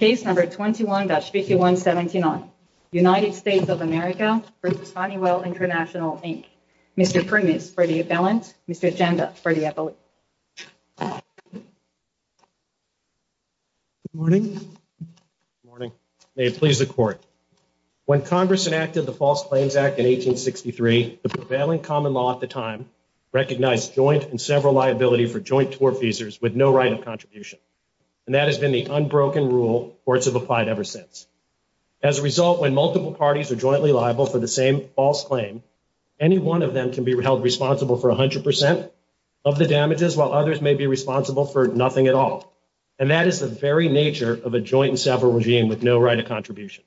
Case number 21-5179, United States of America v. Honeywell International, Inc. Mr. Primus for the appellant, Mr. Agenda for the appellant. Good morning. May it please the court. When Congress enacted the False Claims Act in 1863, the prevailing common law at the time recognized joint and several liability for joint tour visas with no right of contribution. And that has been the unbroken rule courts have applied ever since. As a result, when multiple parties are jointly liable for the same false claim, any one of them can be held responsible for 100% of the damages, while others may be responsible for nothing at all. And that is the very nature of a joint and several regime with no right of contribution.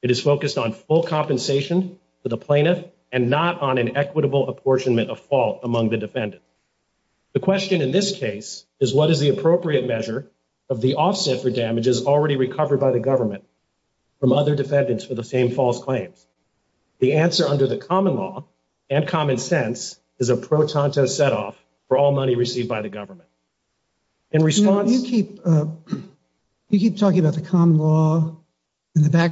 It is focused on full compensation for the plaintiff and not on an equitable apportionment of fault among the defendant. The question in this case is, what is the appropriate measure of the offset for damages already recovered by the government from other defendants for the same false claims? The answer under the common law and common sense is a pro tonto setoff for all money received by the government. In response... You keep talking about the common law and the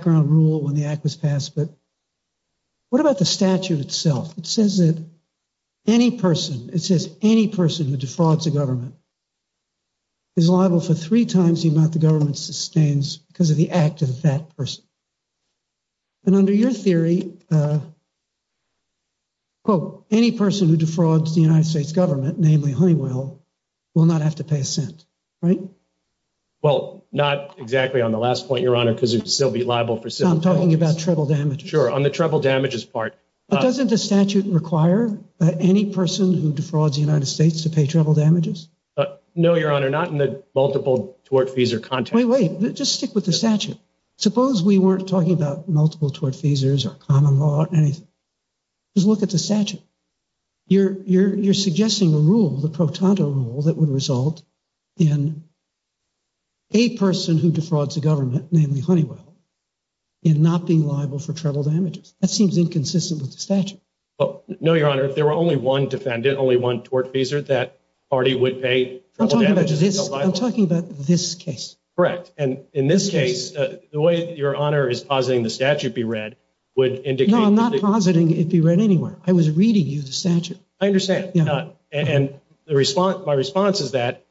any person, it says any person who defrauds the government is liable for three times the amount the government sustains because of the act of that person. And under your theory, quote, any person who defrauds the United States government, namely Honeywell, will not have to pay a cent, right? Well, not exactly on the last point, Your Honor, because you'd still be liable for... I'm talking about treble damages. Sure, on the treble damages part. But doesn't the statute require any person who defrauds the United States to pay treble damages? No, Your Honor, not in the multiple tortfeasor context. Wait, wait, just stick with the statute. Suppose we weren't talking about multiple tortfeasors or common law or anything. Just look at the statute. You're suggesting a rule, the pro tonto rule, that would result in a person who defrauds the government, namely Honeywell, in not being liable for treble damages. That seems inconsistent with the statute. No, Your Honor, there were only one defendant, only one tortfeasor, that party would pay treble damages. I'm talking about this case. Correct. And in this case, the way Your Honor is positing the statute be read would indicate... No, I'm not positing it be read anywhere. I was reading you the statute. I understand. And my response is that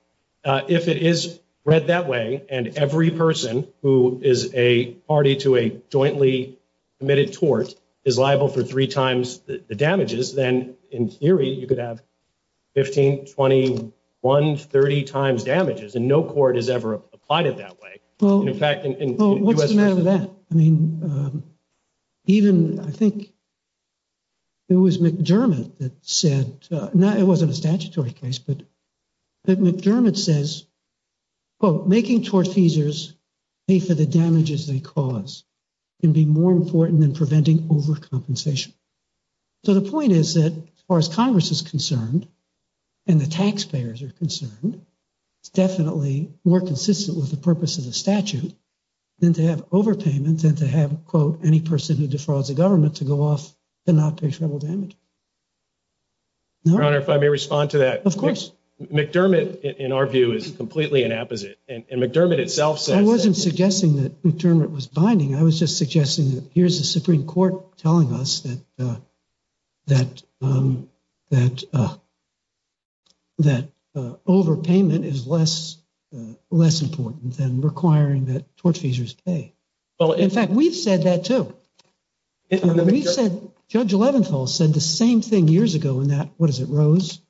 if it is read that way and every person who is a party to jointly committed tort is liable for three times the damages, then in theory you could have 15, 21, 30 times damages. And no court has ever applied it that way. In fact, in U.S. Well, what's the matter with that? I mean, even I think it was McDermott that said, it wasn't a statutory case, but McDermott says, quote, making tortfeasors pay for the damages they cause can be more important than preventing overcompensation. So the point is that as far as Congress is concerned, and the taxpayers are concerned, it's definitely more consistent with the purpose of the statute than to have overpayments and to have, quote, any person who defrauds the government to go off and not pay treble damage. Your Honor, if I may respond to that. Of course. McDermott, in our view, is completely an opposite. And McDermott itself says that. I wasn't suggesting that McDermott was binding. I was just suggesting that here's the Supreme Court telling us that overpayment is less important than requiring that tortfeasors pay. Well, in fact, we've said that too. We've said, Judge Leventhal said the same thing years ago in that, what is it, Rose?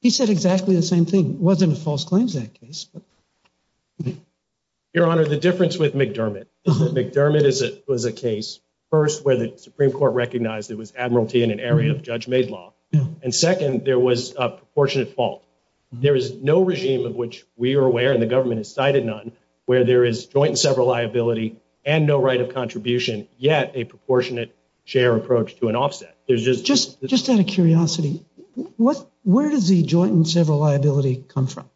He said exactly the same thing. It wasn't a false claims act case. Your Honor, the difference with McDermott is that McDermott was a case, first, where the Supreme Court recognized it was admiralty in an area of judge-made law. And second, there was a proportionate fault. There is no regime of which we are aware, and the government has cited none, where there is joint and several liability and no right of contribution, yet a proportionate share approach to an offset. Just out of curiosity, where does the joint and several come from?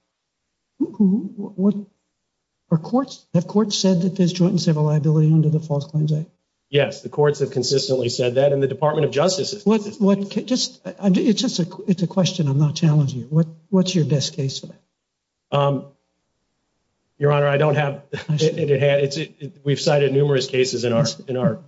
Have courts said that there's joint and several liability under the False Claims Act? Yes, the courts have consistently said that, and the Department of Justice has. It's a question, I'm not challenging you. What's your best case for that? Your Honor, we've cited numerous cases in our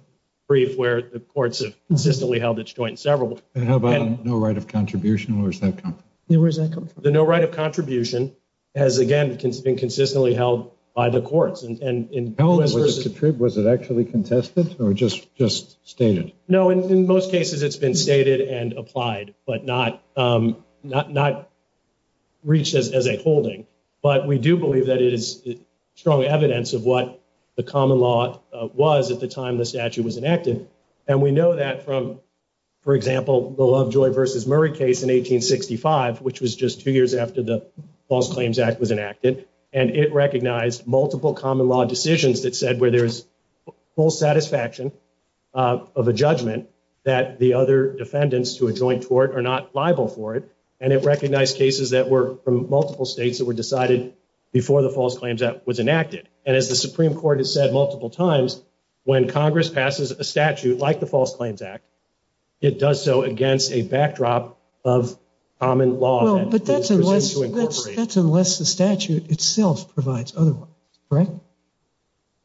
brief where the courts have consistently held it's joint and several. How about no right of contribution? Where does that come from? No right of contribution has, again, been consistently held by the courts. Was it actually contested or just stated? No, in most cases it's been stated and applied, but not reached as a holding. But we do believe that it is strong evidence of what the common law was at the time the statute was enacted. And we know that from, for example, the Lovejoy versus Murray case in 1865, which was just two years after the False Claims Act was enacted. And it recognized multiple common law decisions that said where there's full satisfaction of a judgment that the other defendants to a joint tort are not liable for it. And it recognized cases that were from multiple states that were decided before the False Claims Act was enacted. And as the Supreme Court has said multiple times, when Congress passes a statute like the False Claims Act, it does so against a backdrop of common law that is presumed to incorporate. But that's unless the statute itself provides otherwise, correct?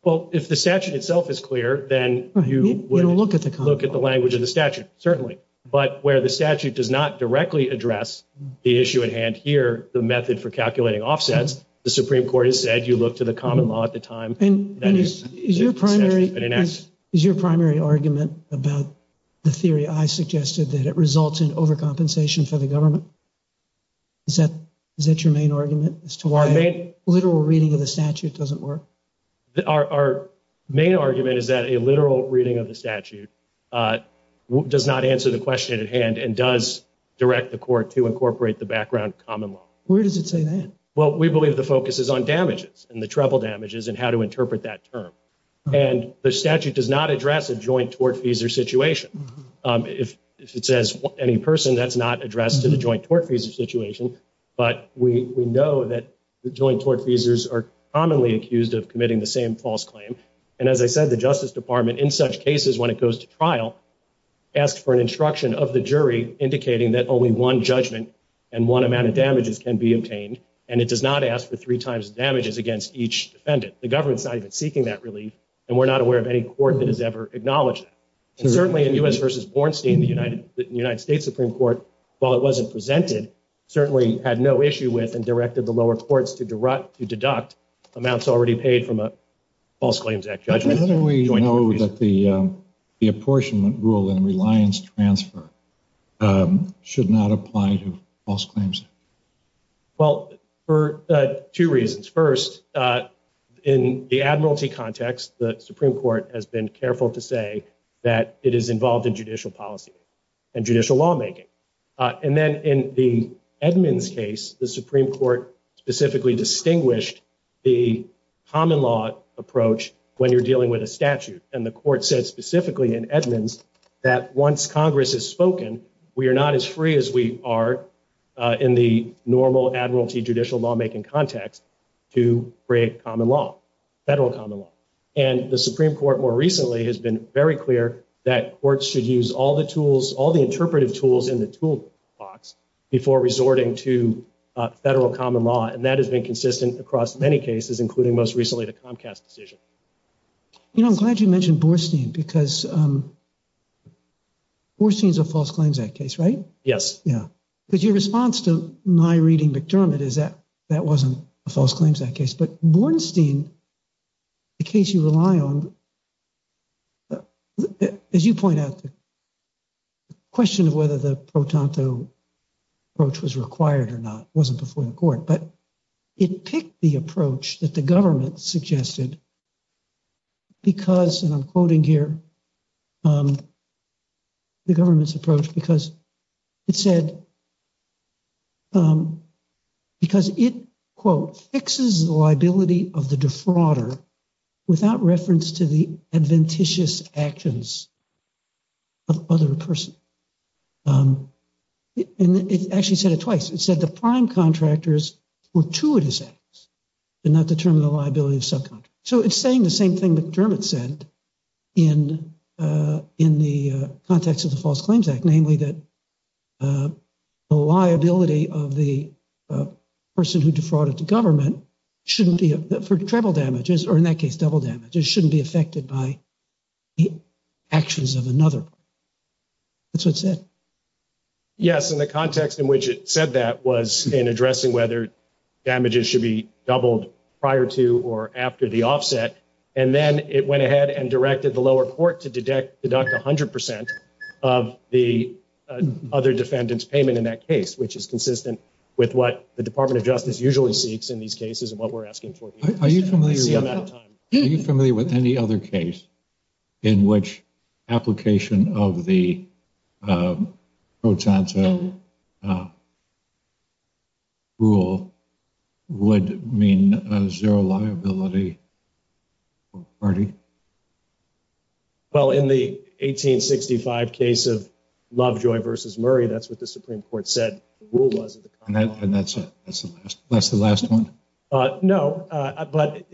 Well, if the statute itself is clear, then you would look at the language of the statute, certainly. But where the statute does not directly address the issue at hand here, the method for calculating offsets, the Supreme Court has said you look to the common law at the time that the statute has been enacted. And is your primary argument about the theory I Is that your main argument as to why a literal reading of the statute doesn't work? Our main argument is that a literal reading of the statute does not answer the question at hand and does direct the court to incorporate the background common law. Where does it say that? Well, we believe the focus is on damages and the treble damages and how to interpret that term. And the statute does not address a joint tort fees or situation. If it says any person, that's not addressed to the joint tort fees or situation. But we know that the joint tort fees are commonly accused of committing the same false claim. And as I said, the Justice Department in such cases, when it goes to trial, asked for an instruction of the jury indicating that only one judgment and one amount of damages can be obtained. And it does not ask for three times damages against each defendant. The government's not even seeking that relief. And we're not aware of any court that has ever acknowledged that. And certainly in U.S. versus Bornstein, the United States Supreme Court, while it wasn't presented, certainly had no issue with and directed the lower courts to deduct amounts already paid from a False Claims Act judgment. How do we know that the apportionment rule and reliance transfer should not apply to false claims? Well, for two reasons. First, in the admiralty context, the Supreme Court has been careful to that it is involved in judicial policy and judicial lawmaking. And then in the Edmonds case, the Supreme Court specifically distinguished the common law approach when you're dealing with a statute. And the court said specifically in Edmonds that once Congress has spoken, we are not as free as we are in the normal admiralty judicial lawmaking context to create federal common law. And the Supreme Court more recently has been very clear that courts should use all the tools, all the interpretive tools in the toolbox before resorting to federal common law. And that has been consistent across many cases, including most recently the Comcast decision. You know, I'm glad you mentioned Bornstein because Bornstein is a False Claims Act case, right? Yes. Yeah. Because your response to my reading McDermott is that that wasn't a False Claims Act case. But Bornstein, the case you rely on, as you point out, the question of whether the pro tanto approach was required or not wasn't before the court, but it picked the approach that the government suggested because, and I'm quoting here, the government's approach because it said, because it, quote, fixes the liability of the defrauder without reference to the adventitious actions of other person. And it actually said it twice. It said the prime contractors were to a dissent and not determine the liability of subcontractors. So it's saying the same thing McDermott said in the context of the False Claims Act, namely that the liability of the person who defrauded the government shouldn't be, for treble damages, or in that case, double damages, shouldn't be affected by the actions of another. That's what it said. Yes. And the context in which it said that was in addressing whether damages should be doubled prior to or after the offset. And then it went ahead and directed the lower court to deduct 100% of the other defendant's payment in that case, which is consistent with what the Department of Justice usually seeks in these cases and what we're asking for here. Are you familiar with any other case in which application of the Pro Tanto rule would mean a zero liability party? Well, in the 1865 case of Lovejoy versus Murray, that's what the Supreme Court said the rule was. And that's the last one? No, but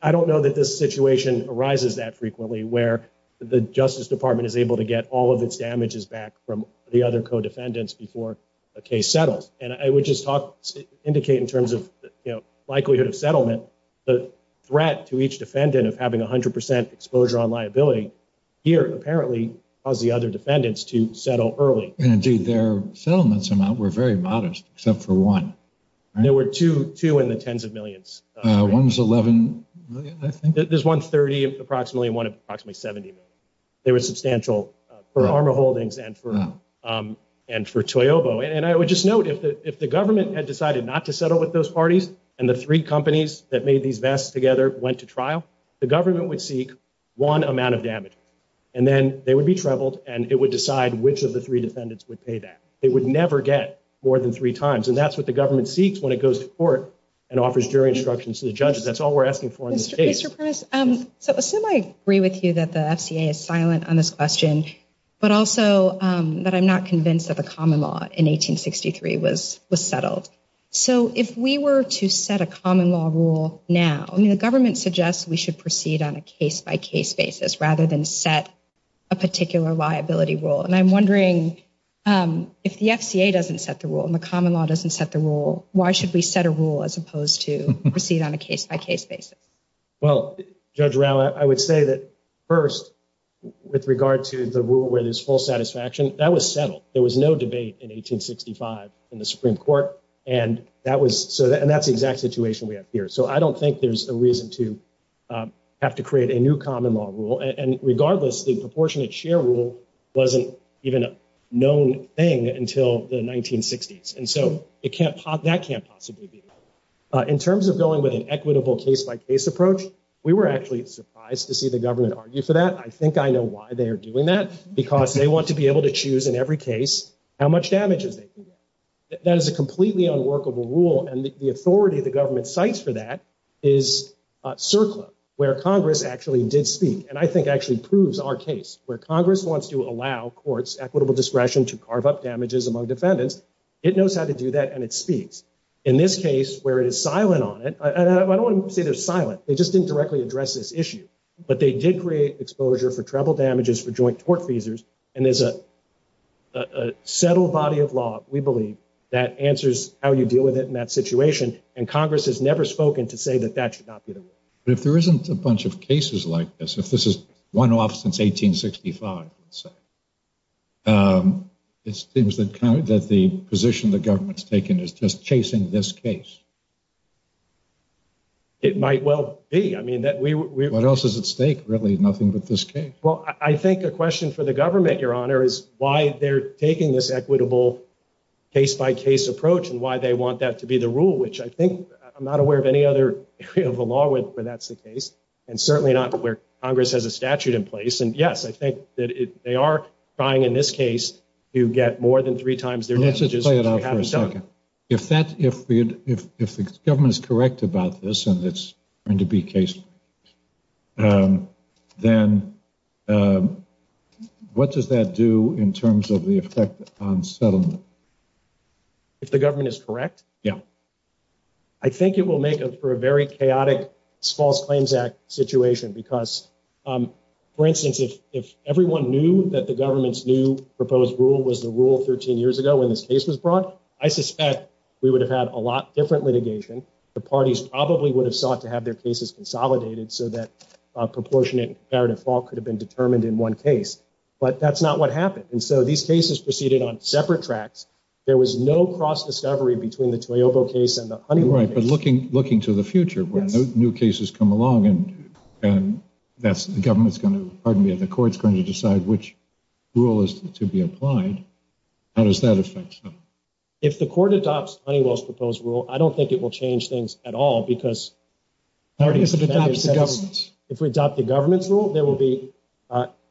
I don't know that this situation arises that frequently, where the Justice Department is able to get all of its damages back from the other co-defendants before a case settles. And I would just indicate in terms of likelihood of settlement, the threat to each defendant of having 100% exposure on liability here apparently caused the other defendants to settle early. And indeed, their settlements amount were very modest, except for one. There were two in the tens of millions. One was $11 million, I think? There's one $30 million, approximately, and one of approximately $70 million. They were substantial for Arma Holdings and for Toyobo. And I would just note, if the government had decided not to settle with those parties, and the three companies that made these vests together went to trial, the government would seek one amount of damage. And then they would be troubled, and it would decide which of the three defendants would pay that. They would never get more than three times. And that's what the government seeks when it goes to court and offers jury instructions to the judges. That's all we're asking for in case. Mr. Primus, so assume I agree with you that the FCA is silent on this question, but also that I'm not convinced that the common law in 1863 was settled. So if we were to set a common law rule now, I mean, the government suggests we should proceed on a case-by-case basis rather than set a particular liability rule. And I'm wondering if the FCA doesn't set the rule and the common law doesn't set the rule, why should we set a rule as opposed to proceed on a case-by-case basis? Well, Judge Rao, I would say that first, with regard to the rule where there's full satisfaction, that was settled. There was no debate in 1865 in the Supreme Court. And that's the exact situation we have here. So I don't think there's a reason to have to create a new common law rule. And regardless, the proportionate share rule wasn't even a known thing until the 1960s. And so that can't possibly be. In terms of going with an equitable case-by-case approach, we were actually surprised to see the government argue for that. I think I know why they are doing that, because they want to be able to choose in every case how much damage they can get. That is a completely unworkable rule. And the authority the government cites for that is CERCLA, where Congress actually did speak, and I think actually proves our case, where Congress wants to allow courts equitable discretion to carve up damages among defendants. It knows how to do that, and it speaks. In this case, where it is silent on it, and I don't want to say they're silent. They just didn't directly address this issue. But they did create exposure for treble damages for joint tort feasors. And there's a settled body of law, we believe, that answers how you deal with it in that situation. And Congress has never spoken to say that that should not be the rule. But if there isn't a bunch of cases like this, if this is one off since 1865, let's say, it seems that the position the government's taken is just chasing this case. It might well be. What else is at stake, really, nothing but this case? Well, I think a question for the government, Your Honor, is why they're taking this equitable case-by-case approach, and why they want that to be the rule, which I think I'm not aware of any other area of the law where that's the case, and certainly not where Congress has a statute in place. And yes, I think that they are trying, in this case, to get more than three times their messages. Let's just play it out for a second. If the government is correct about this, and it's going to be case-by-case, then what does that do in terms of the effect on settlement? If the government is correct? Yeah. I think it will make for a very chaotic False Claims Act situation because, for instance, if everyone knew that the government's new proposed rule was the rule 13 years ago when this case was brought, I suspect we would have had a lot different litigation. The parties probably would have sought to have their cases consolidated so that proportionate and comparative fault could have been determined in one case. But that's not what happened. And so these cases proceeded on separate tracks. There was no cross-discovery between the Toyobo case and the Honeywell case. Right. But looking to the future, where new cases come along, and the government's going to, pardon me, the court's going to decide which rule is to be applied, how does that affect settlement? If the court adopts Honeywell's proposed rule, I don't think it will change things at all because... If it adopts the government's? There will be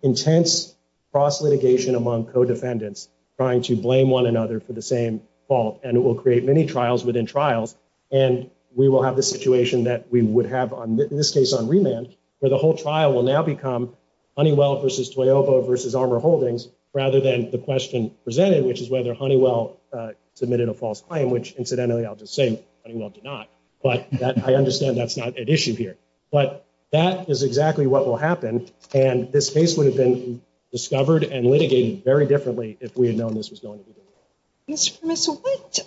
intense cross-litigation among co-defendants trying to blame one another for the same fault, and it will create many trials within trials. And we will have the situation that we would have in this case on remand, where the whole trial will now become Honeywell versus Toyobo versus Armor Holdings, rather than the question presented, which is whether Honeywell submitted a false claim, which incidentally, I'll just say Honeywell did not. But I understand that's not at issue here. But that is exactly what will happen. And this case would have been discovered and litigated very differently if we had known this was going to be the case. Mr. Primus,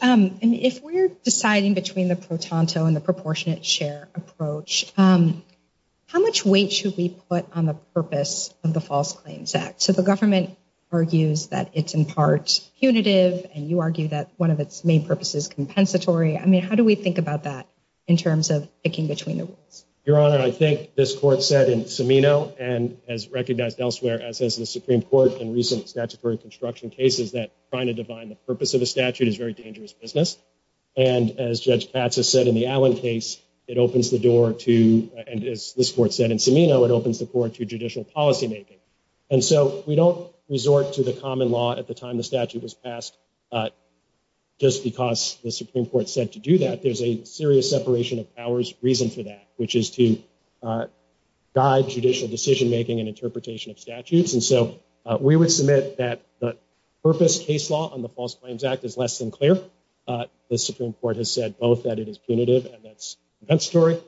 if we're deciding between the protonto and the proportionate share approach, how much weight should we put on the purpose of the False Claims Act? So the government argues that it's in part punitive, and you argue that one of its main purposes is compensatory. I Your Honor, I think this Court said in Cimino, and as recognized elsewhere, as has the Supreme Court in recent statutory construction cases, that trying to define the purpose of a statute is very dangerous business. And as Judge Patsis said in the Allen case, it opens the door to, and as this Court said in Cimino, it opens the door to judicial policymaking. And so we don't resort to the common law at the time the statute was passed, just because the Supreme Court said to do that. There's a serious separation of powers reason for that, which is to guide judicial decision-making and interpretation of statutes. And so we would submit that the purpose case law on the False Claims Act is less than clear. The Supreme Court has said both that it is punitive and that's compensatory.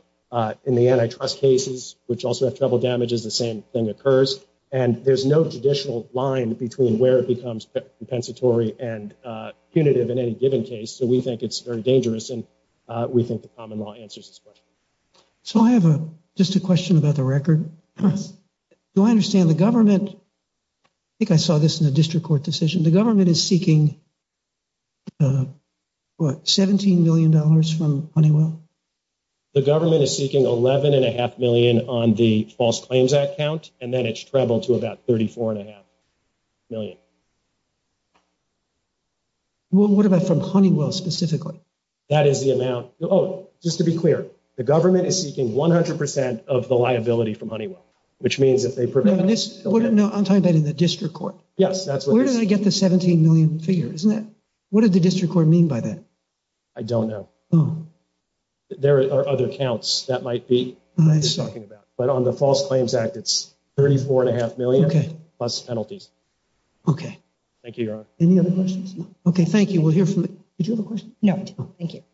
In the antitrust cases, which also have trouble damages, the same thing occurs. And there's no judicial line between where it becomes compensatory and punitive in any given case. So we think it's very dangerous, and we think the common law answers this question. So I have just a question about the record. Do I understand the government, I think I saw this in a district court decision, the government is seeking what, $17 million from Honeywell? The government is seeking $11.5 million on the False Claims Act count, and then it's $34.5 million. Well, what about from Honeywell specifically? That is the amount, oh, just to be clear, the government is seeking 100% of the liability from Honeywell, which means if they prevent this... No, I'm talking about in the district court. Yes, that's what it is. Where did I get the $17 million figure, isn't it? What did the district court mean by that? I don't know. There are other counts that might be talking about, but on the False Claims Act, it's $34.5 million plus penalties. Okay. Thank you, Your Honor. Any other questions? No. Okay, thank you. We'll hear from the... Did you have a question? No, I didn't. Thank you.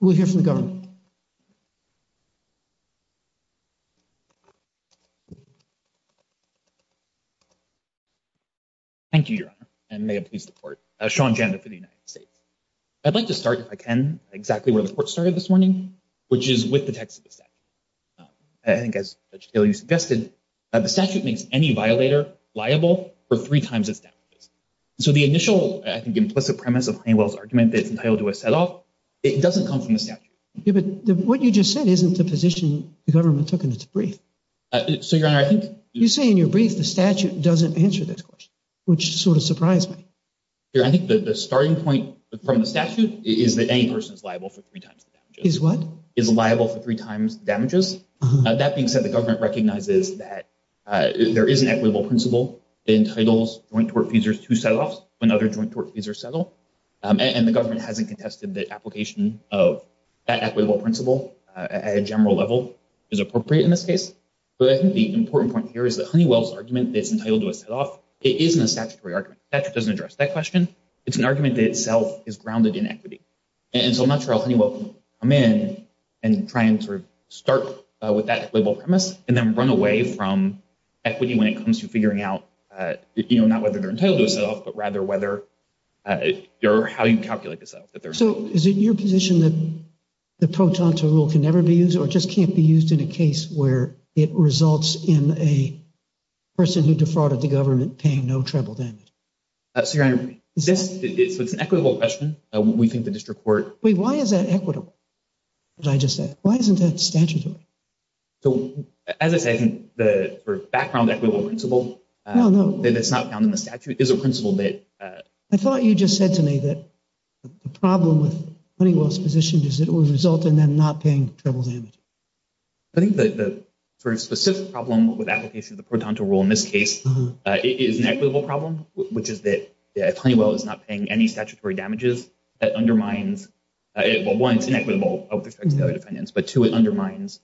We'll hear from the government. Thank you, Your Honor, and may it please the court. Sean Janda for the United States. I'd like to start, if I can, exactly where the court started this morning, which is with the text of the statute. I think, as Judge Taylor, you suggested, the statute makes any violator liable for three times its damages. So the initial, I think, implicit premise of Honeywell's argument that it's entitled to a set-off, it doesn't come from the statute. But what you just said isn't the position the government took in its brief. So, Your Honor, I think... You say in your brief the statute doesn't answer this question, which sort of surprised me. I think that the starting point from the statute is that any person is liable for three times the damages. Is liable for three times the damages. That being said, the government recognizes that there is an equitable principle that entitles joint tort feeders to set-offs when other joint tort feeders settle. And the government hasn't contested that application of that equitable principle at a general level is appropriate in this case. But I think the important point here is that Honeywell's argument that it's entitled to a set-off, it isn't a statutory argument. The statute doesn't address that question. It's an argument that itself is grounded in equity. And so I'm not sure how Honeywell can come in and try and sort of start with that equitable premise and then run away from equity when it comes to figuring out, you know, not whether they're entitled to a set-off, but rather whether how you calculate the set-off. So, is it your position that the Pro Tonto rule can never be used or just can't be used in a case where it results in a person who defrauded the government paying no treble damage? So, Your Honor, it's an equitable question. We think the district court... Wait, why is that equitable? What did I just say? Why isn't that statutory? So, as I said, I think the sort of background equitable principle that's not found in the statute is a principle that... I thought you just said to me that the problem with Honeywell's position is that it would result in them not paying treble damage. I think the sort of specific problem with application of the Pro Tonto rule in this case is an equitable problem, which is that if Honeywell is not paying any statutory damages, that undermines... Well, one, it's inequitable with respect to the other defendants, but two, it undermines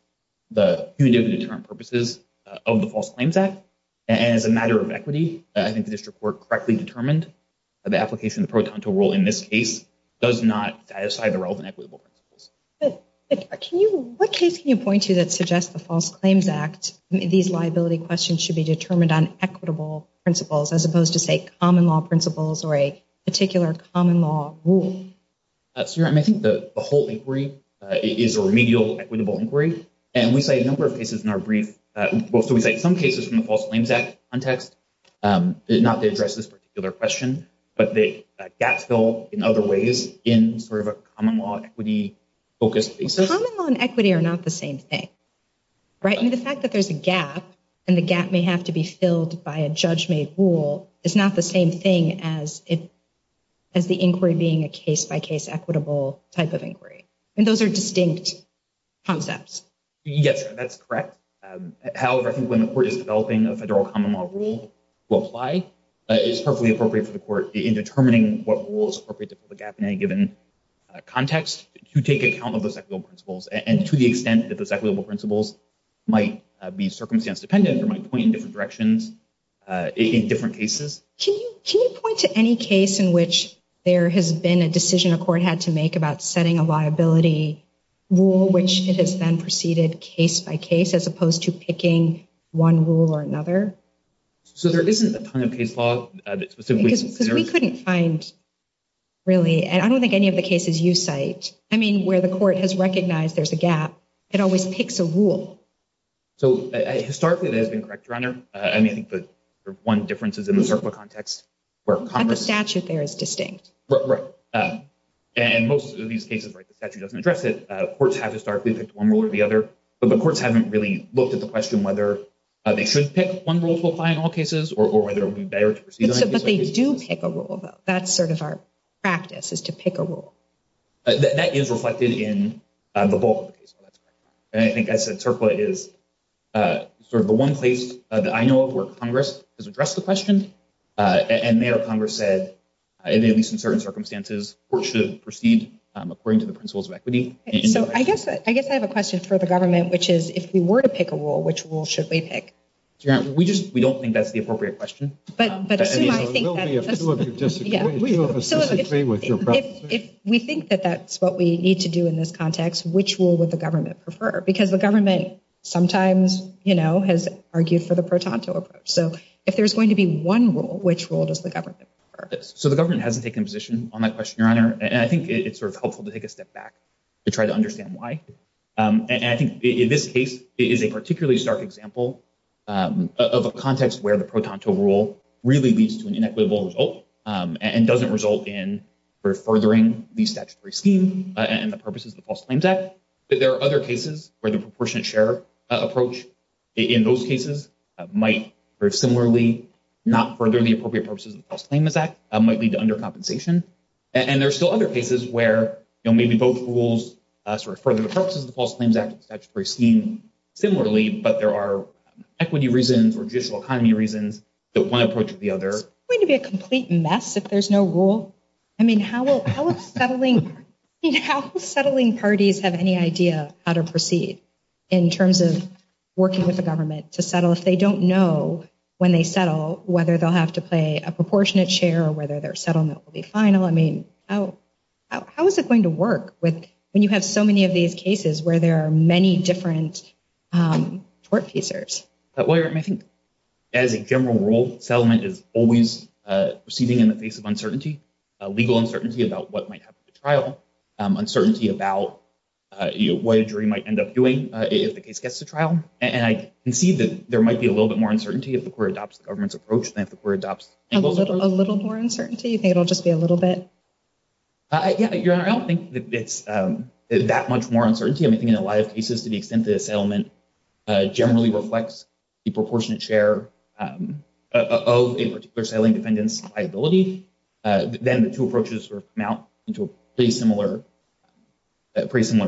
the punitive deterrent purposes of the False Claims Act. And as a matter of equity, I think the district court correctly determined that the application of the Pro Tonto rule in this case does not satisfy the relevant equitable principles. What case can you point to that suggests the False Claims Act, these liability questions, should be determined on equitable principles as opposed to, say, common law principles or a common law rule? So, I think the whole inquiry is a remedial equitable inquiry. And we cite a number of cases in our brief. We cite some cases from the False Claims Act context, not to address this particular question, but the gaps fill in other ways in sort of a common law equity-focused basis. Common law and equity are not the same thing, right? I mean, the fact that there's a gap and the gap may have to be filled by a judge-made rule is not the same thing as the inquiry being a case-by-case equitable type of inquiry. And those are distinct concepts. Yes, that's correct. However, I think when the court is developing a federal common law rule to apply, it's perfectly appropriate for the court in determining what rule is appropriate to fill the gap in any given context to take account of those equitable principles and to the extent that those equitable principles might be circumstance-dependent or might point in different directions in different cases. Can you point to any case in which there has been a decision a court had to make about setting a liability rule, which it has then preceded case-by-case, as opposed to picking one rule or another? So, there isn't a ton of case law that specifically conserves... Because we couldn't find, really, and I don't think any of the cases you cite, I mean, where the court has recognized there's a gap, it always picks a rule. So, historically, that has been correct, Your Honor. I mean, I think the one difference is in the CERCLA context, where Congress... And the statute there is distinct. Right. And most of these cases, right, the statute doesn't address it. Courts have historically picked one rule or the other, but the courts haven't really looked at the question whether they should pick one rule to apply in all cases or whether it would be better to proceed... But they do pick a rule, though. That's sort of our practice, is to pick a rule. That is reflected in the bulk of the case law, that's correct. And I think, as I said, CERCLA is sort of the one place that I know of where Congress has addressed the question. And there, Congress said, at least in certain circumstances, courts should proceed according to the principles of equity. So, I guess I have a question for the government, which is, if we were to pick a rule, which rule should we pick? We just... We don't think that's the appropriate question. If we think that that's what we need to do in this context, which rule would the government prefer? Because the government sometimes, you know, has argued for the pro-Tonto approach. So, if there's going to be one rule, which rule does the government prefer? So, the government hasn't taken a position on that question, Your Honor, and I think it's sort of helpful to take a step back to try to understand why. And I think, in this case, it is a particularly stark example of a context where the pro-Tonto rule really leads to an inequitable result and doesn't result in furthering the statutory scheme and the purposes of the False Claims Act. But there are other cases where the proportionate share approach in those cases might, very similarly, not further the appropriate purposes of the False Claims Act, might lead to under compensation. And there are still other cases where, you know, maybe both rules sort of further the purposes of the False Claims Act and the statutory scheme, similarly, but there are equity reasons or judicial economy reasons that one approaches the other. It's going to be a complete mess if there's no rule. I mean, how will settling parties have any idea how to proceed in terms of working with the government to settle if they don't know, when they settle, whether they'll have to play a proportionate share or whether their settlement will be final? I mean, how is it going to work when you have so many of these cases where there are many different tort pieces? As a general rule, settlement is always proceeding in the face of uncertainty. Legal uncertainty about what might happen at the trial, uncertainty about what a jury might end up doing if the case gets to trial. And I can see that there might be a little bit more uncertainty if the court adopts the government's approach than if the court adopts— A little more uncertainty? You think it'll just be a little bit? Yeah, Your Honor, I don't think it's that much more uncertainty. I mean, I think in a lot of cases, to the extent that a settlement generally reflects the proportionate share of a particular settling defendant's liability, then the two approaches sort of come out into a pretty similar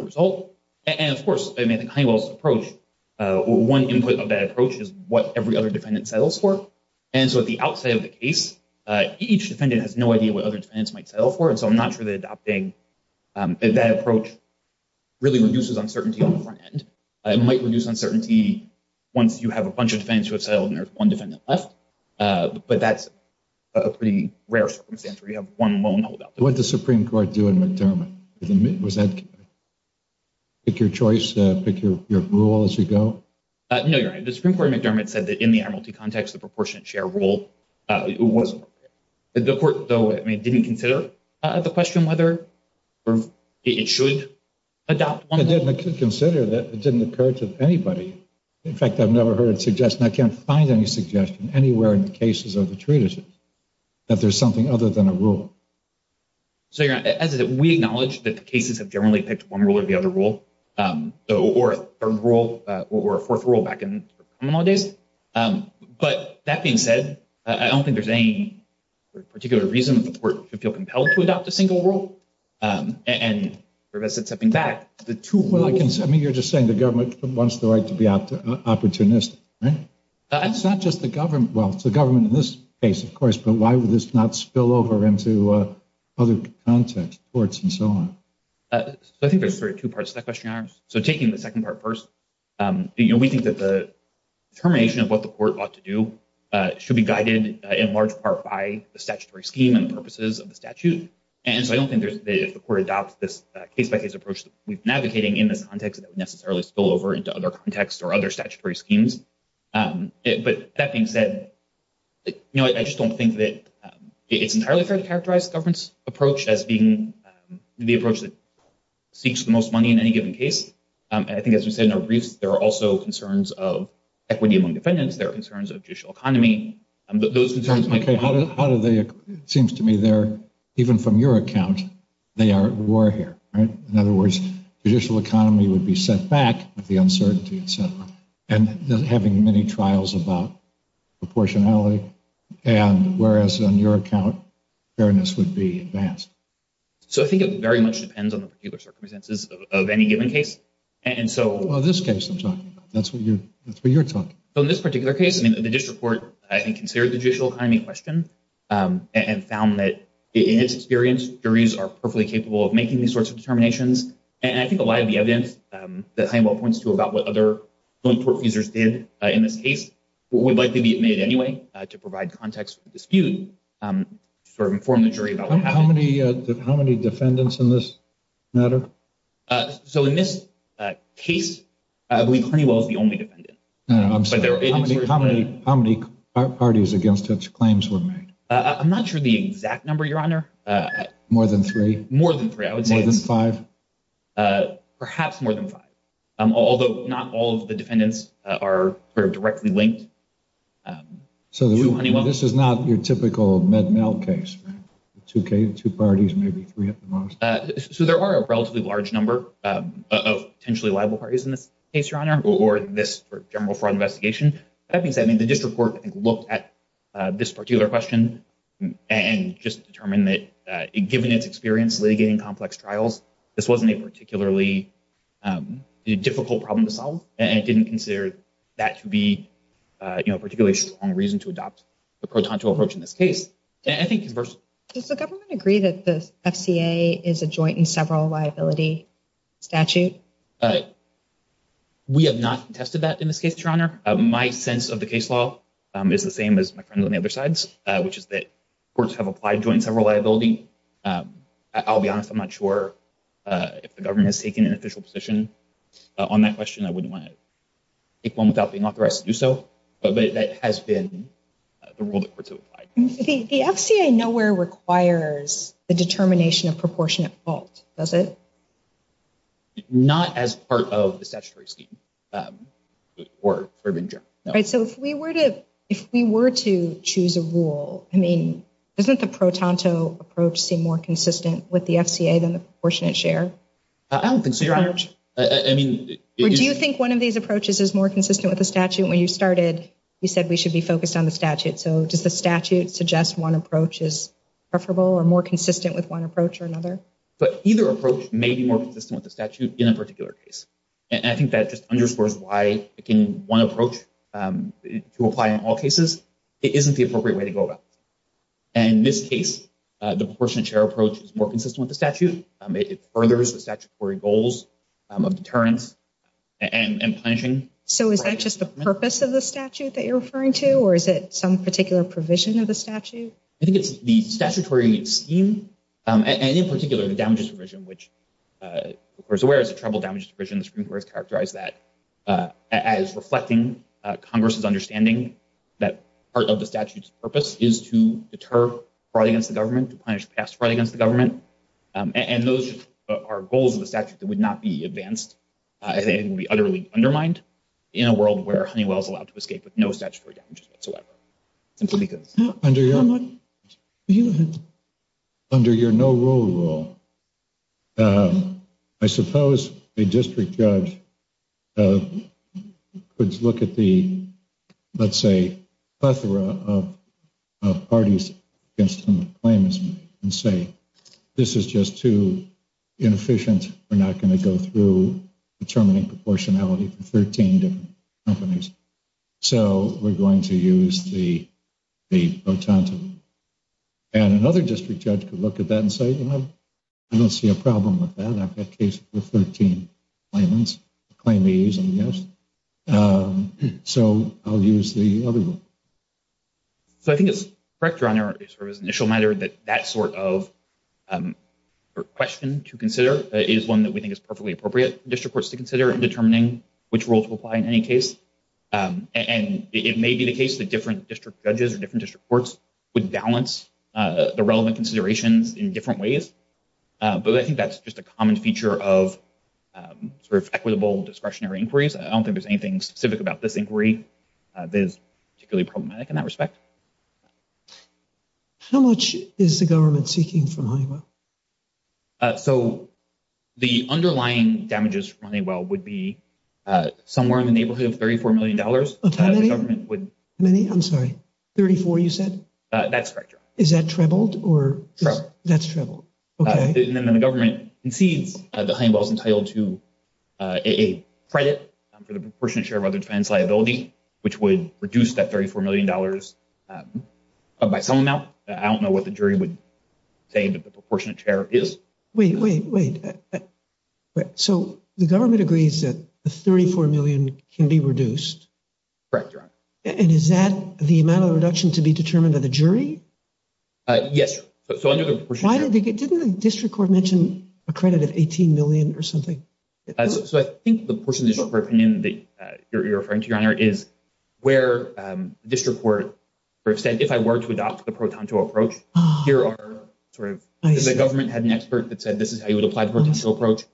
result. And of course, I mean, I think Honeywell's approach, one input of that approach is what every other defendant settles for. And so at the outside of the case, each defendant has no idea what other defendants might settle for. And so I'm not sure that adopting that approach really reduces uncertainty on the front end. It might reduce uncertainty once you have a bunch of defendants who have settled and there's one defendant left. But that's a pretty rare circumstance where you have one lone holdout. What did the Supreme Court do in McDermott? Was that—pick your choice, pick your rule as you go? No, Your Honor, the Supreme Court in McDermott said that in the amorti context, the proportionate share rule wasn't—the court, though, I mean, didn't consider the question whether it should adopt one— It didn't consider that. It didn't occur to anybody. In fact, I've never heard a suggestion. I can't find any suggestion anywhere in the cases of the treatises that there's something other than a rule. So, Your Honor, we acknowledge that the cases have generally picked one rule or the other rule or a third rule or a fourth rule back in common law days. But that being said, I don't think there's any particular reason that the court should feel compelled to adopt a single rule. And as it's stepping back, the two rules— I mean, you're just saying the government wants the right to be opportunistic, right? It's not just the government. Well, it's the government in this case, of course, but why would this not spill over into other contexts, courts, and so on? So I think there's sort of two parts to that question, Your Honor. So taking the second part first, we think that the termination of what the court ought to do should be guided in large part by the statutory scheme and the purposes of the statute. And so I don't think if the court adopts this case-by-case approach that we've been advocating in this context that would necessarily spill over into other contexts or other statutory schemes. But that being said, I just don't think that it's entirely fair to characterize the government's approach as being the approach that seeks the most money in any given case. And I think, as we said in our briefs, there are also concerns of equity among defendants. There are concerns of judicial economy. How do they—it seems to me they're—even from your account, they are at war here, right? In other words, judicial economy would be set back with the uncertainty, et cetera. And having many trials about proportionality, and whereas on your account, fairness would be advanced. So I think it very much depends on the particular circumstances of any given case. And so— Well, this case I'm talking about. That's what you're talking about. So in this particular case, I mean, the district court, I think, considered the judicial economy question and found that in its experience, juries are perfectly capable of making these sorts of determinations. And I think a lot of the evidence that Honeywell points to about what other joint court users did in this case would likely be made anyway to provide context for the dispute, sort of inform the jury about what happened. How many defendants in this matter? So in this case, I believe Honeywell is the only defendant. I'm sorry, how many parties against which claims were made? I'm not sure the exact number, Your Honor. More than three? More than three, I would say. More than five? Perhaps more than five, although not all of the defendants are sort of directly linked to Honeywell. This is not your typical Med-Mel case, right? Two parties, maybe three at the most. So there are a relatively large number of potentially liable parties in this case, Your Honor, or this general fraud investigation. That being said, I mean, the district court looked at this particular question and just determined that given its experience litigating complex trials, this wasn't a particularly difficult problem to solve, and it didn't consider that to be a particularly strong reason to adopt the pro-tonto approach in this case. Does the government agree that the FCA is a joint and several liability statute? We have not tested that in this case, Your Honor. My sense of the case law is the same as my friends on the other sides, which is that courts have applied joint and several liability. I'll be honest. I'm not sure if the government has taken an official position on that question. I wouldn't want to take one without being authorized to do so, but that has been the rule that courts have applied. The FCA nowhere requires the determination of proportionate fault, does it? Not as part of the statutory scheme. So if we were to choose a rule, I mean, doesn't the pro-tonto approach seem more consistent with the FCA than the proportionate share? I don't think so, Your Honor. Do you think one of these approaches is more consistent with the statute? When you started, you said we should be focused on the statute. So does the statute suggest one approach is preferable or more consistent with one approach or another? But either approach may be more consistent with the statute in a particular case, and I think that just underscores why in one approach to apply in all cases, it isn't the appropriate way to go about it. And in this case, the proportionate share approach is more consistent with the statute. It furthers the statutory goals of deterrence and punishing. So is that just the purpose of the statute that you're referring to, or is it some particular provision of the statute? I think it's the statutory scheme, and in particular, the damages provision, which the Court is aware is a troubled damages provision. The Supreme Court has characterized that as reflecting Congress's understanding that part of the statute's purpose is to deter fraud against the government, to punish past fraud against the government. And those are goals of the statute that would not be advanced. I think it would be utterly undermined in a world where Honeywell is allowed to escape with no statutory damages whatsoever, simply because. Under your no-rule rule, I suppose a district judge could look at the, let's say, plethora of parties against some of the claimants and say, this is just too inefficient. We're not going to go through determining proportionality for 13 different companies. So we're going to use the pro tante rule. And another district judge could look at that and say, you know, I don't see a problem with that. I've had cases with 13 claimants, claimees, and yes. So I'll use the other rule. So I think it's correct, Your Honor, sort of as an initial matter that that sort of question to consider is one that we think is perfectly appropriate for district courts to consider in determining which rule to apply in any case. And it may be the case that different district judges or different district courts would balance the relevant considerations in different ways. But I think that's just a common feature of sort of equitable discretionary inquiries. I don't think there's anything specific about this inquiry that is particularly problematic in that respect. How much is the government seeking from Honeywell? So the underlying damages from Honeywell would be somewhere in the neighborhood of $34 million. Of how many? The government would. How many? I'm sorry. 34, you said? That's correct, Your Honor. Is that trebled or? Trebled. That's trebled. Okay. And then the government concedes that Honeywell is entitled to a credit for the proportionate share of other defense liability, which would reduce that $34 million by some amount. I don't know what the jury would say, but the proportionate share is. Wait, wait, wait. So the government agrees that the $34 million can be reduced. Correct, Your Honor. And is that the amount of reduction to be determined by the jury? Yes. Why didn't the district court mention a credit of $18 million or something? So I think the portion of the district court opinion that you're referring to, Your Honor, is where the district court said, if I were to adopt the pro-tonto approach, here are sort of. The government had an expert that said, this is how you would apply the pro-tonto approach.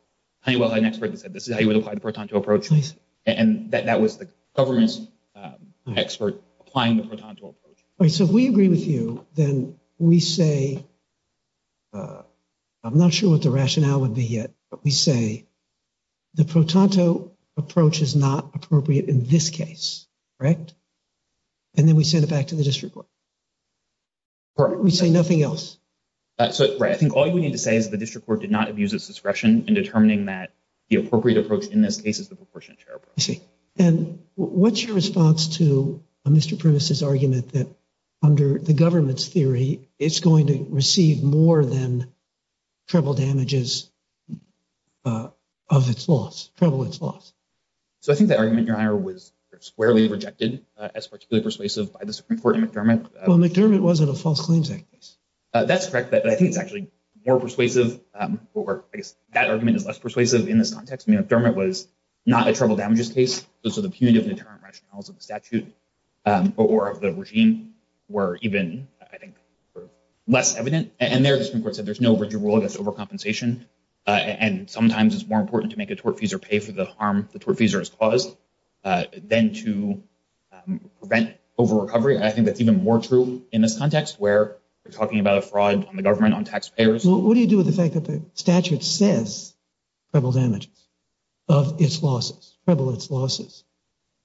Honeywell had an expert that said, this is how you would apply the pro-tonto approach. And that was the government's expert applying the pro-tonto approach. All right. So if we agree with you, then we say, I'm not sure what the rationale would be yet, but we say, the pro-tonto approach is not appropriate in this case. Correct? And then we send it back to the district court. Correct. We say nothing else. So, right. I think all you need to say is the district court did not abuse its discretion in determining that the appropriate approach in this case is the proportionate share approach. I see. And what's your response to Mr. Primus' argument that under the government's theory, it's going to receive more than treble damages of its loss, treble its loss? So I think the argument, Your Honor, was squarely rejected as particularly persuasive by the Supreme Court and McDermott. Well, McDermott wasn't a false claims act case. That's correct. But I think it's actually more persuasive, or I guess that argument is less persuasive in this context. I mean, McDermott was not a treble damages case. So the punitive deterrent rationales of the statute or of the regime were even, I think, less evident. And there, the Supreme Court said there's no rigid rule against overcompensation. And sometimes it's more important to make a tortfeasor pay for the harm the tortfeasor has caused than to prevent over-recovery. I think that's even more true in this context where we're talking about a fraud on the government, on taxpayers. What do you do with the fact that the statute says treble damages of its losses, treble its losses?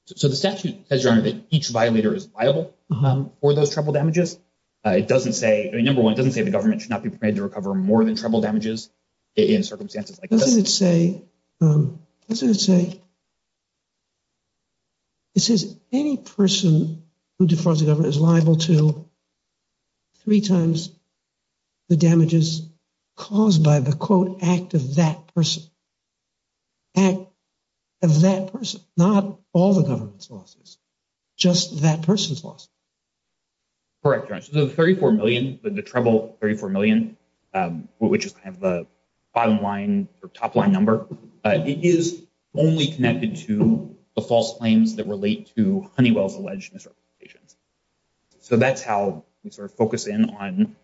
So the statute says, Your Honor, that each violator is liable for those treble damages. Number one, it doesn't say the government should not be permitted to recover more than treble damages in circumstances like this. Doesn't it say, it says any person who defrauds the government is liable to three times the damages caused by the, quote, act of that person. Act of that person, not all the government's losses, just that person's losses. Correct, Your Honor. So the $34 million, the treble $34 million, which is kind of the bottom line or top line number, it is only connected to the false claims that relate to Honeywell's alleged misrepresentations. So that's how we sort of focus in on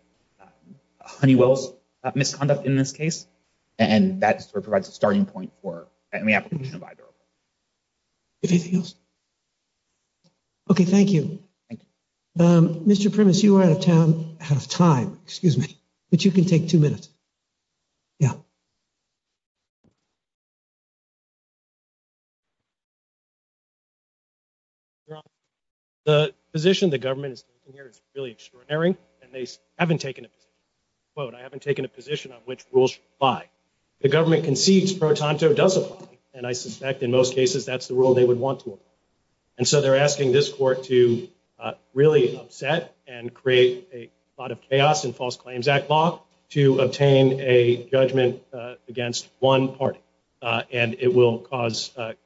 Honeywell's misconduct in this case. And that sort of provides a starting point for any application of I-0. If anything else. Okay, thank you. Mr. Primus, you are out of town, out of time, excuse me, but you can take two minutes. Yeah. The position the government is taking here is really extraordinary. And they haven't taken a, quote, I haven't taken a position on which rules should apply. The government concedes Pro Tonto does apply. And I suspect in most cases, that's the rule they would want to apply. And so they're asking this court to really upset and create a lot of chaos in false claims act law to obtain a judgment against one party. And it will cause, it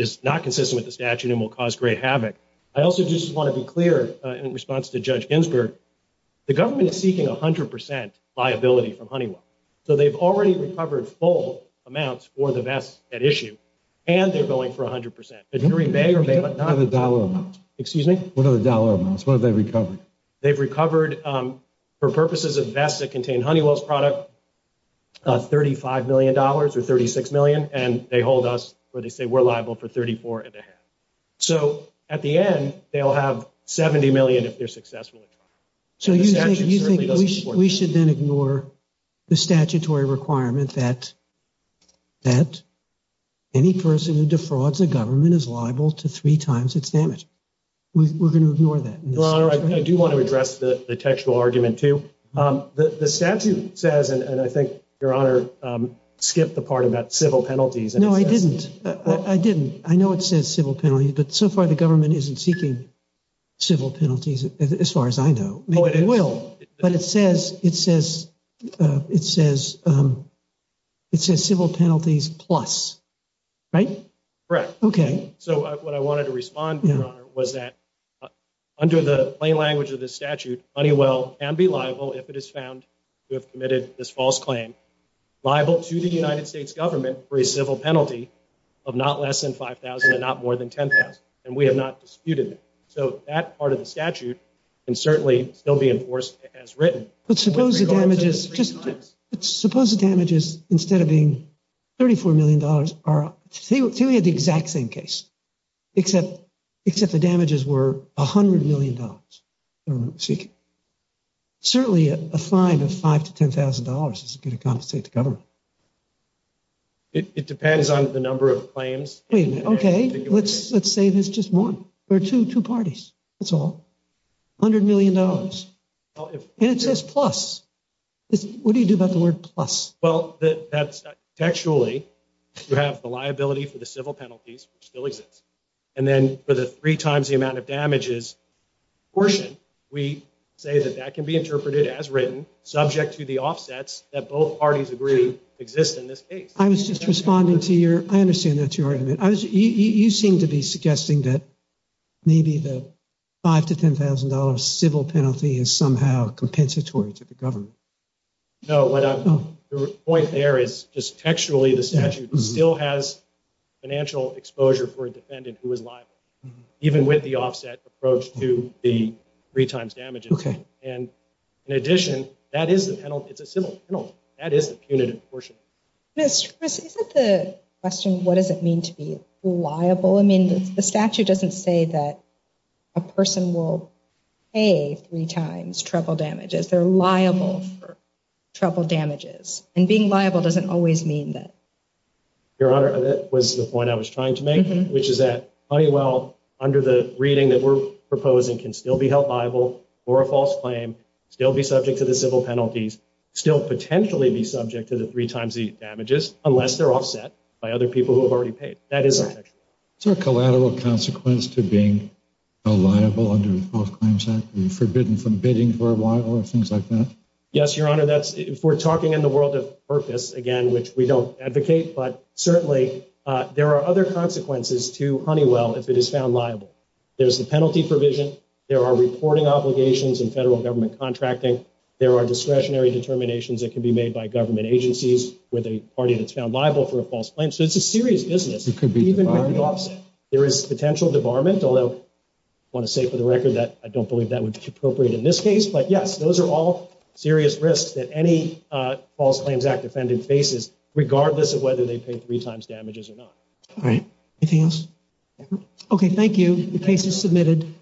is not consistent with the statute and will cause great havoc. I also just want to be clear in response to Judge Ginsburg, the government is seeking 100% liability from Honeywell. So they've already recovered full amounts for the vests at issue. And they're going for 100% jury may or may not. What are the dollar amounts? Excuse me? What are the dollar amounts? What have they recovered? They've recovered for purposes of vests that contain Honeywell's product, $35 million or $36 million. And they hold us where they say we're liable for $34 and a half. So at the end, they'll have $70 million if they're successful. So you think we should then ignore the statutory requirement that any person who defrauds the government is liable to three times its damage. We're going to ignore that. Your Honor, I do want to address the textual argument too. The statute says, and I think Your Honor skipped the part about civil penalties. No, I didn't. I didn't. I know it says civil penalty, but so far the government isn't seeking civil penalties as far as I know. Maybe they will. But it says, it says, it says, it says civil penalties plus. Right? Correct. Okay. So what I wanted to respond to, Your Honor, was that under the plain language of this statute, Honeywell can be liable if it is found to have committed this false claim, liable to the United States government for a civil penalty of not less than $5,000 and not more than $10,000. And we have not disputed it. So that part of the statute can certainly still be enforced as written. But suppose the damages, just suppose the damages instead of being $34 million are, say we had the exact same case, except, except the damages were $100 million. Certainly a fine of $5,000 to $10,000 is going to compensate the government. It depends on the number of claims. Wait a minute. Okay. Let's, let's say there's just one or two, two parties. That's all, $100 million. And it says plus. What do you do about the word plus? Well, that's actually, you have the liability for the civil penalties, which still exists. And then for the three times the amount of damages portion, we say that that can be interpreted as written subject to the offsets that both parties agree exist in this case. I was just responding to your, I understand that's your argument. You seem to be suggesting that maybe the $5,000 to $10,000 civil penalty is somehow compensatory to the government. No, the point there is just textually, the statute still has financial exposure for a defendant who is liable, even with the offset approach to the three times damages. Okay. And in addition, that is the penalty. It's a civil penalty. That is the punitive portion. Isn't the question, what does it mean to be liable? I mean, the statute doesn't say that a person will pay three times trouble damages. They're liable for trouble damages. And being liable doesn't always mean that. Your Honor, that was the point I was trying to make, which is that Honeywell, under the reading that we're proposing, can still be held liable for a false claim, still be subject to the civil penalties, still potentially be subject to the three times the damages, unless they're offset by other people who have already paid. That is a collateral consequence to being a liable under the False Claims Act and forbidden for a while or things like that. Yes, Your Honor, if we're talking in the world of purpose, again, which we don't advocate, but certainly there are other consequences to Honeywell if it is found liable. There's the penalty provision. There are reporting obligations and federal government contracting. There are discretionary determinations that can be made by government agencies with a party that's found liable for a false claim. So it's a serious business, even with the offset. There is potential debarment, although I want to say for the record that I don't believe that would be appropriate in this case. But yes, those are all serious risks that any False Claims Act defendant faces, regardless of whether they pay three times damages or not. All right. Anything else? Okay, thank you. The case is submitted.